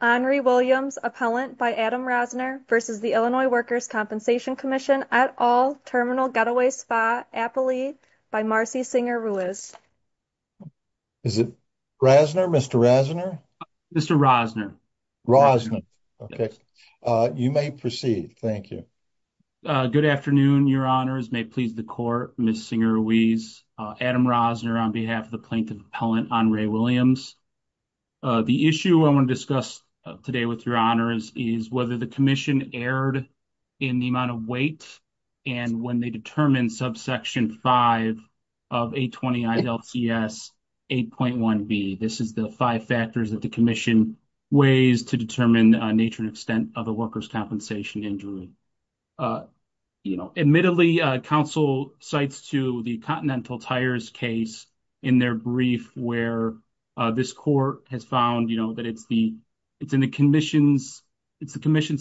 Henry Williams, Appellant by Adam Rosner v. Illinois Workers' Compensation Comm'n et al., Terminal Getaway Spa, Appalee, by Marcy Singer Ruiz. Is it Rosner? Mr. Rosner? Mr. Rosner. Rosner. Okay. You may proceed. Thank you. Good afternoon, Your Honors. May it please the Court, Ms. Singer Ruiz, Adam Rosner, on behalf of the Plaintiff Appellant, Henry Williams. The issue I want to discuss today with Your Honors is whether the Commission erred in the amount of weight and when they determined subsection 5 of 820 ILCS 8.1b. This is the five factors that the Commission weighs to determine nature and extent of a workers' compensation injury. Admittedly, counsel cites to the Continental Tires case in their brief where this Court has found, you know, that it's in the Commission's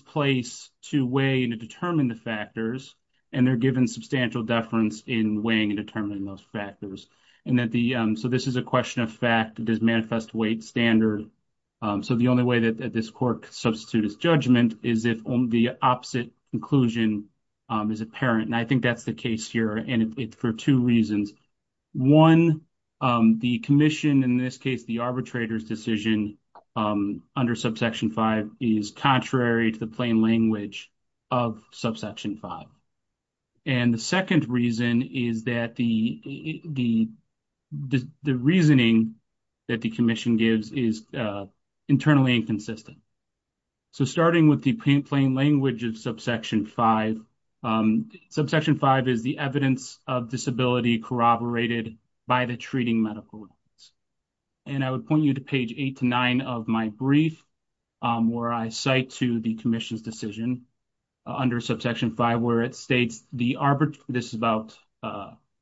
place to weigh and to determine the factors, and they're given substantial deference in weighing and determining those factors. So this is a question of fact. It does manifest weight standard. So the only way that this Court could substitute its judgment is if the opposite conclusion is apparent, and I think that's the case here, and it's for two reasons. One, the Commission, in this case the arbitrator's decision under subsection 5, is contrary to the plain language of subsection 5. And the second reason is that the reasoning that the Commission gives is internally inconsistent. So starting with the plain language of subsection 5, subsection 5 is the evidence of disability corroborated by the treating medical records. And I would point you to page 8 to 9 of my brief where I cite to the Commission's decision under subsection 5 where it states the arbitrator, this is about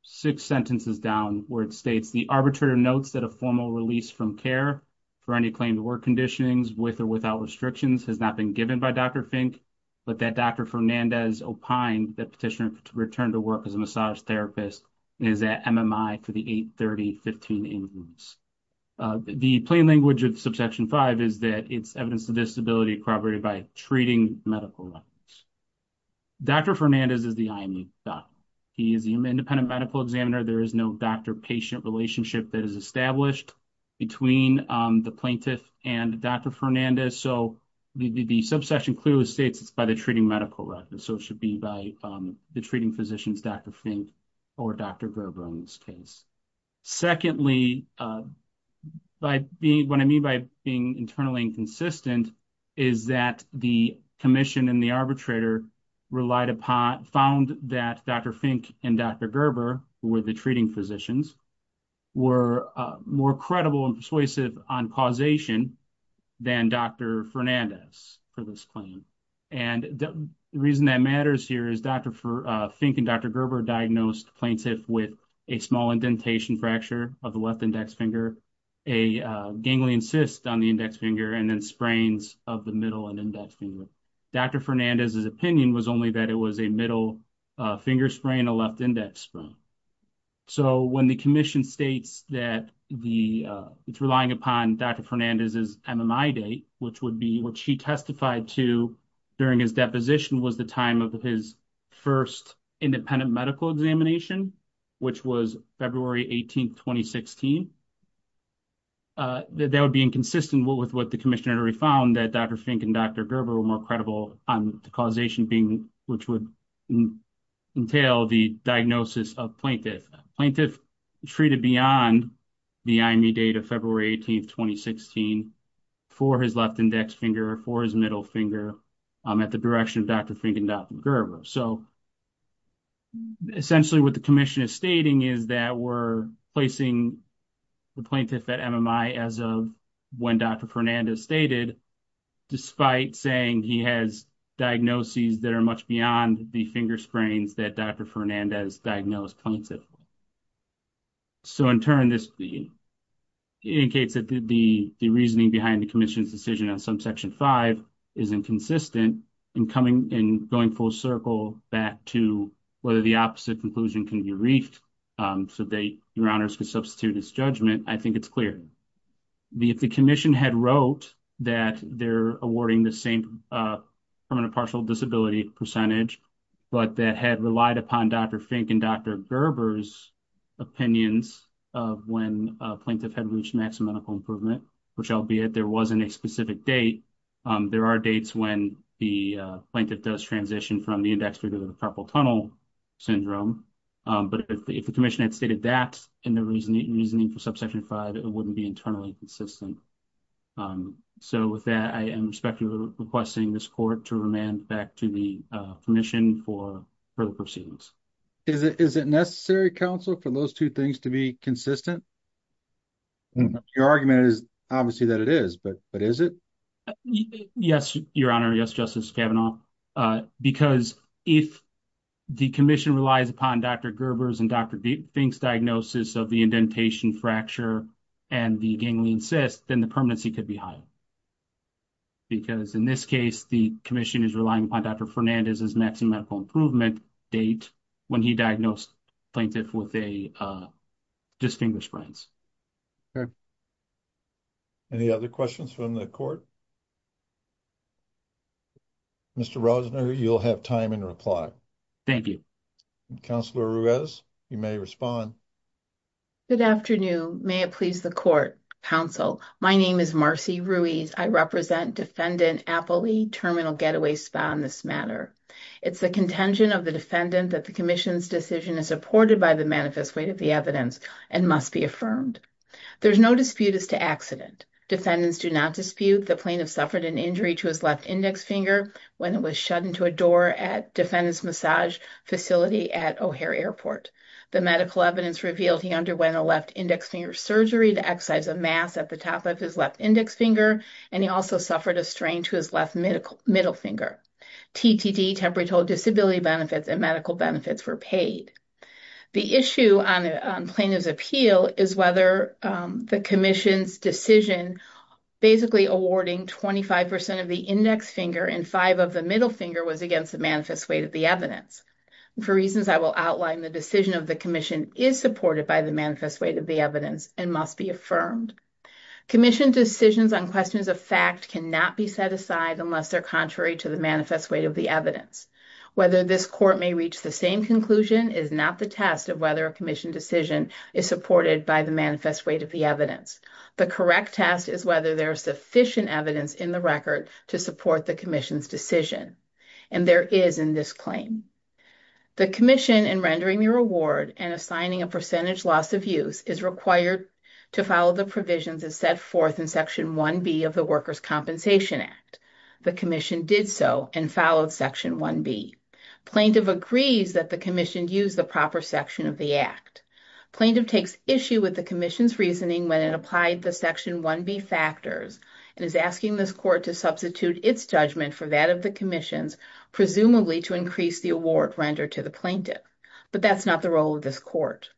six sentences down, where it states the arbitrator notes that a formal release from care for any claim to work conditionings with or without restrictions has not been given by Dr. Fink, but that Dr. Fernandez opined that petitioner to return to work as a massage therapist is at MMI to the 830.15 incomes. The plain language of subsection 5 is that it's evidence of disability corroborated by treating medical records. Dr. Fernandez is the IMU doc. He is an independent medical examiner. There is no doctor-patient relationship that is established between the plaintiff and Dr. Fernandez. So the subsection clearly states it's by the treating medical records. So it should be by the treating physicians, Dr. Fink or Dr. Gerber in this case. Secondly, what I mean by being internally inconsistent is that the Commission and the arbitrator relied upon, found that Dr. Fink and Dr. Gerber, who were the treating physicians, were more credible and persuasive on causation than Dr. Fernandez for this claim. And the reason that matters here is Dr. Fink and Dr. Gerber diagnosed plaintiff with a small indentation fracture of the left index finger, a ganglion cyst on the index finger, and then sprains of the middle and index finger. Dr. Fernandez's opinion was only that it was a middle finger sprain and a left index sprain. So when the Commission states that it's relying upon Dr. Fernandez's MMI date, which would be what she testified to during his deposition was the time of his first independent medical examination, which was February 18, 2016, that would be inconsistent with what the Commissioner found that Dr. Fink and Dr. Gerber were more credible on the causation being, which would entail the diagnosis of plaintiff. Plaintiff treated beyond the IME date of February 18, 2016, for his left index finger, for his middle finger, at the direction of Dr. Fink and Dr. Gerber. So essentially what the Commission is stating is that we're placing the plaintiff at MMI as of when Dr. Fernandez stated, despite saying he has diagnoses that are much beyond the finger sprains that Dr. Fernandez diagnosed plaintiff with. So in turn, this indicates that the reasoning behind the Commission's decision on subsection five is inconsistent in going full circle back to whether the opposite conclusion can be reefed so that your honors could substitute his judgment, I think it's clear. If the Commission had wrote that they're awarding the same permanent partial disability percentage, but that had relied upon Dr. Fink and Dr. Gerber's opinions of when a plaintiff had reached maximum medical improvement, which albeit there wasn't a specific date, there are dates when the plaintiff does transition from the index finger to the purple tunnel syndrome. But if the Commission had stated that in the reasoning for subsection five, it wouldn't be internally consistent. So with that, I am respectfully requesting this court to remand back to the Commission for further proceedings. Is it necessary, counsel, for those two things to be consistent? Your argument is obviously that it is, but is it? Yes, your honor, yes, Justice Kavanaugh. Because if the Commission relies upon Dr. Gerber's and Dr. Fink's diagnosis of the indentation fracture and the ganglion cyst, then the permanency could be higher. Because in this case, the Commission is relying upon Dr. Fernandez's maximum improvement date when he diagnosed plaintiff with a distinguished brain. Any other questions from the court? Mr. Rosner, you'll have time in reply. Thank you. Counselor Ruiz, you may respond. Good afternoon. May it please the court, counsel. My name is Marcy Ruiz. I represent Defendant Appley, terminal getaway spa in this matter. It's the contention of the defendant that the Commission's decision is supported by the manifest weight of the evidence and must be affirmed. There's no dispute as to accident. Defendants do not dispute the plaintiff suffered an injury to his left index finger when it was shut into a door at defendant's massage facility at O'Hare airport. The medical evidence revealed he underwent a left index finger surgery to exercise a mass at the top of his left index finger, and he also suffered a strain to his left middle finger. TTD, temporary total disability benefits and medical benefits were paid. The issue on plaintiff's heel is whether the Commission's decision basically awarding 25% of the index finger and five of the middle finger was against the manifest weight of the evidence. For reasons I will outline, the decision of the Commission is supported by the manifest weight of the evidence and must be affirmed. Commission decisions on questions of fact cannot be set aside unless they're contrary to the manifest weight of the evidence. Whether this court may reach the same conclusion is not the test of whether a Commission decision is supported by the manifest weight of the evidence. The correct test is whether there is sufficient evidence in the record to support the Commission's decision, and there is in this claim. The Commission in rendering the reward and assigning a percentage loss of use is required to follow the provisions as set forth in Section 1B of the Workers' Compensation Act. The Commission did so and followed Section 1B. Plaintiff agrees that the Commission used the proper section of the Act. Plaintiff takes issue with the Commission's reasoning when it applied the Section 1B factors and is asking this court to substitute its judgment for that of the Commission's, presumably to increase the award rendered to the plaintiff. But that's not the role of this court.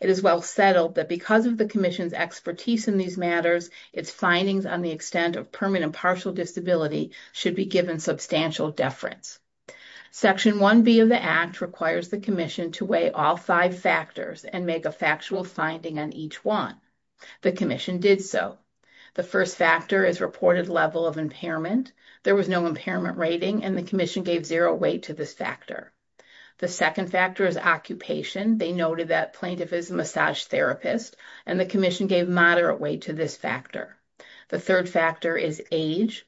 It is well settled that because of the Commission's expertise in these matters, its findings on the extent of permanent partial disability should be given substantial deference. Section 1B of the Act requires the Commission to weigh all five factors and make a factual finding on each one. The Commission did so. The first factor is reported level of impairment. There was no impairment rating and the Commission gave zero weight to this factor. The second factor is occupation. They noted that plaintiff is a massage therapist and the Commission gave moderate weight to this factor. The third factor is age.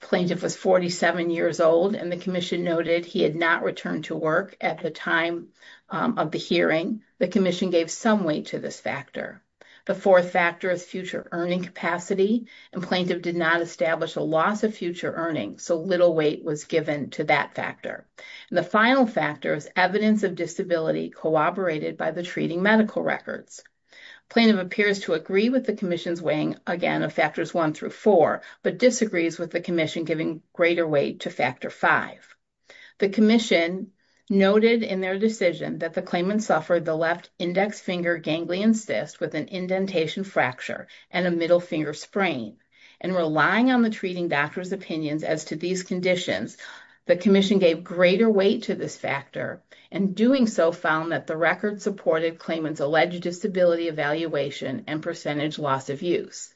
Plaintiff was 47 years old and the Commission noted he had not returned to work at the time of the hearing. The Commission gave some weight to this factor. The fourth factor is future earning capacity and plaintiff did not establish a loss of future earnings, so little weight was given to that The final factor is evidence of disability corroborated by the treating medical records. Plaintiff appears to agree with the Commission's weighing again of factors one through four, but disagrees with the Commission giving greater weight to factor five. The Commission noted in their decision that the claimant suffered the left index finger ganglion cyst with an indentation fracture and a middle finger sprain. And relying on the treating doctor's opinions as to these conditions, the Commission gave greater weight to this factor and doing so found that the record supported claimant's alleged disability evaluation and percentage loss of use.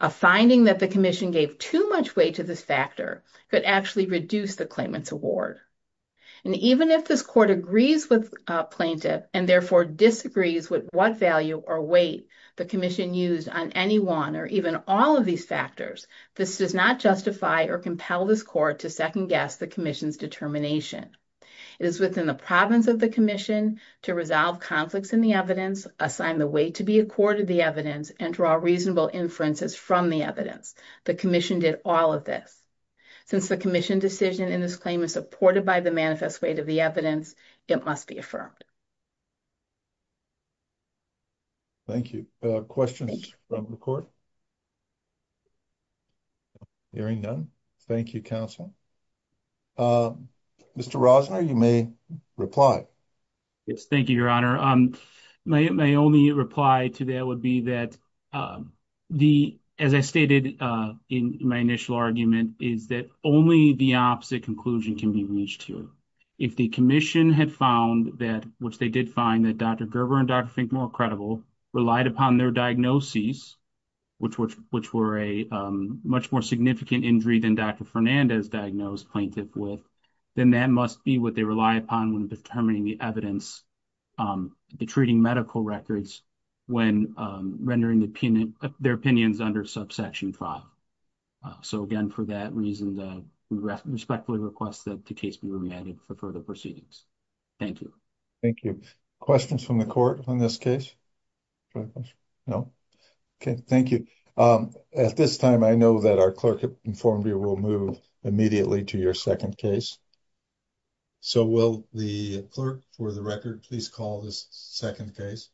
A finding that the Commission gave too much weight to this factor could actually reduce the claimant's award. And even if this court agrees with plaintiff and therefore disagrees with what value or weight the Commission used on any one or even all of these factors, this does not justify or compel this court to second-guess the Commission's determination. It is within the province of the Commission to resolve conflicts in the evidence, assign the weight to be accorded the evidence, and draw reasonable inferences from the evidence. The Commission did all of this. Since the Commission decision in this claim is supported by the manifest weight of the evidence, it must be affirmed. Thank you. Questions from the court? Hearing none, thank you, counsel. Mr. Rosner, you may reply. Yes, thank you, Your Honor. My only reply to that would be that the, as I stated in my initial argument, is that only the opposite conclusion can be reached here. If the Commission had found that, which they did find that Dr. Gerber and Dr. Finkmore credible, relied upon their diagnoses, which were a much more significant injury than Dr. Fernandez diagnosed plaintiff with, then that must be what they rely upon when determining the evidence, the treating medical records, when rendering their opinions under subsection 5. So, again, for that reason, we respectfully request that the case be remanded for further proceedings. Thank you. Thank you. Questions from the court on this case? No? Okay, thank you. At this time, I know that our clerk informed you we'll move immediately to your second case. So, will the clerk for the record please call this second case?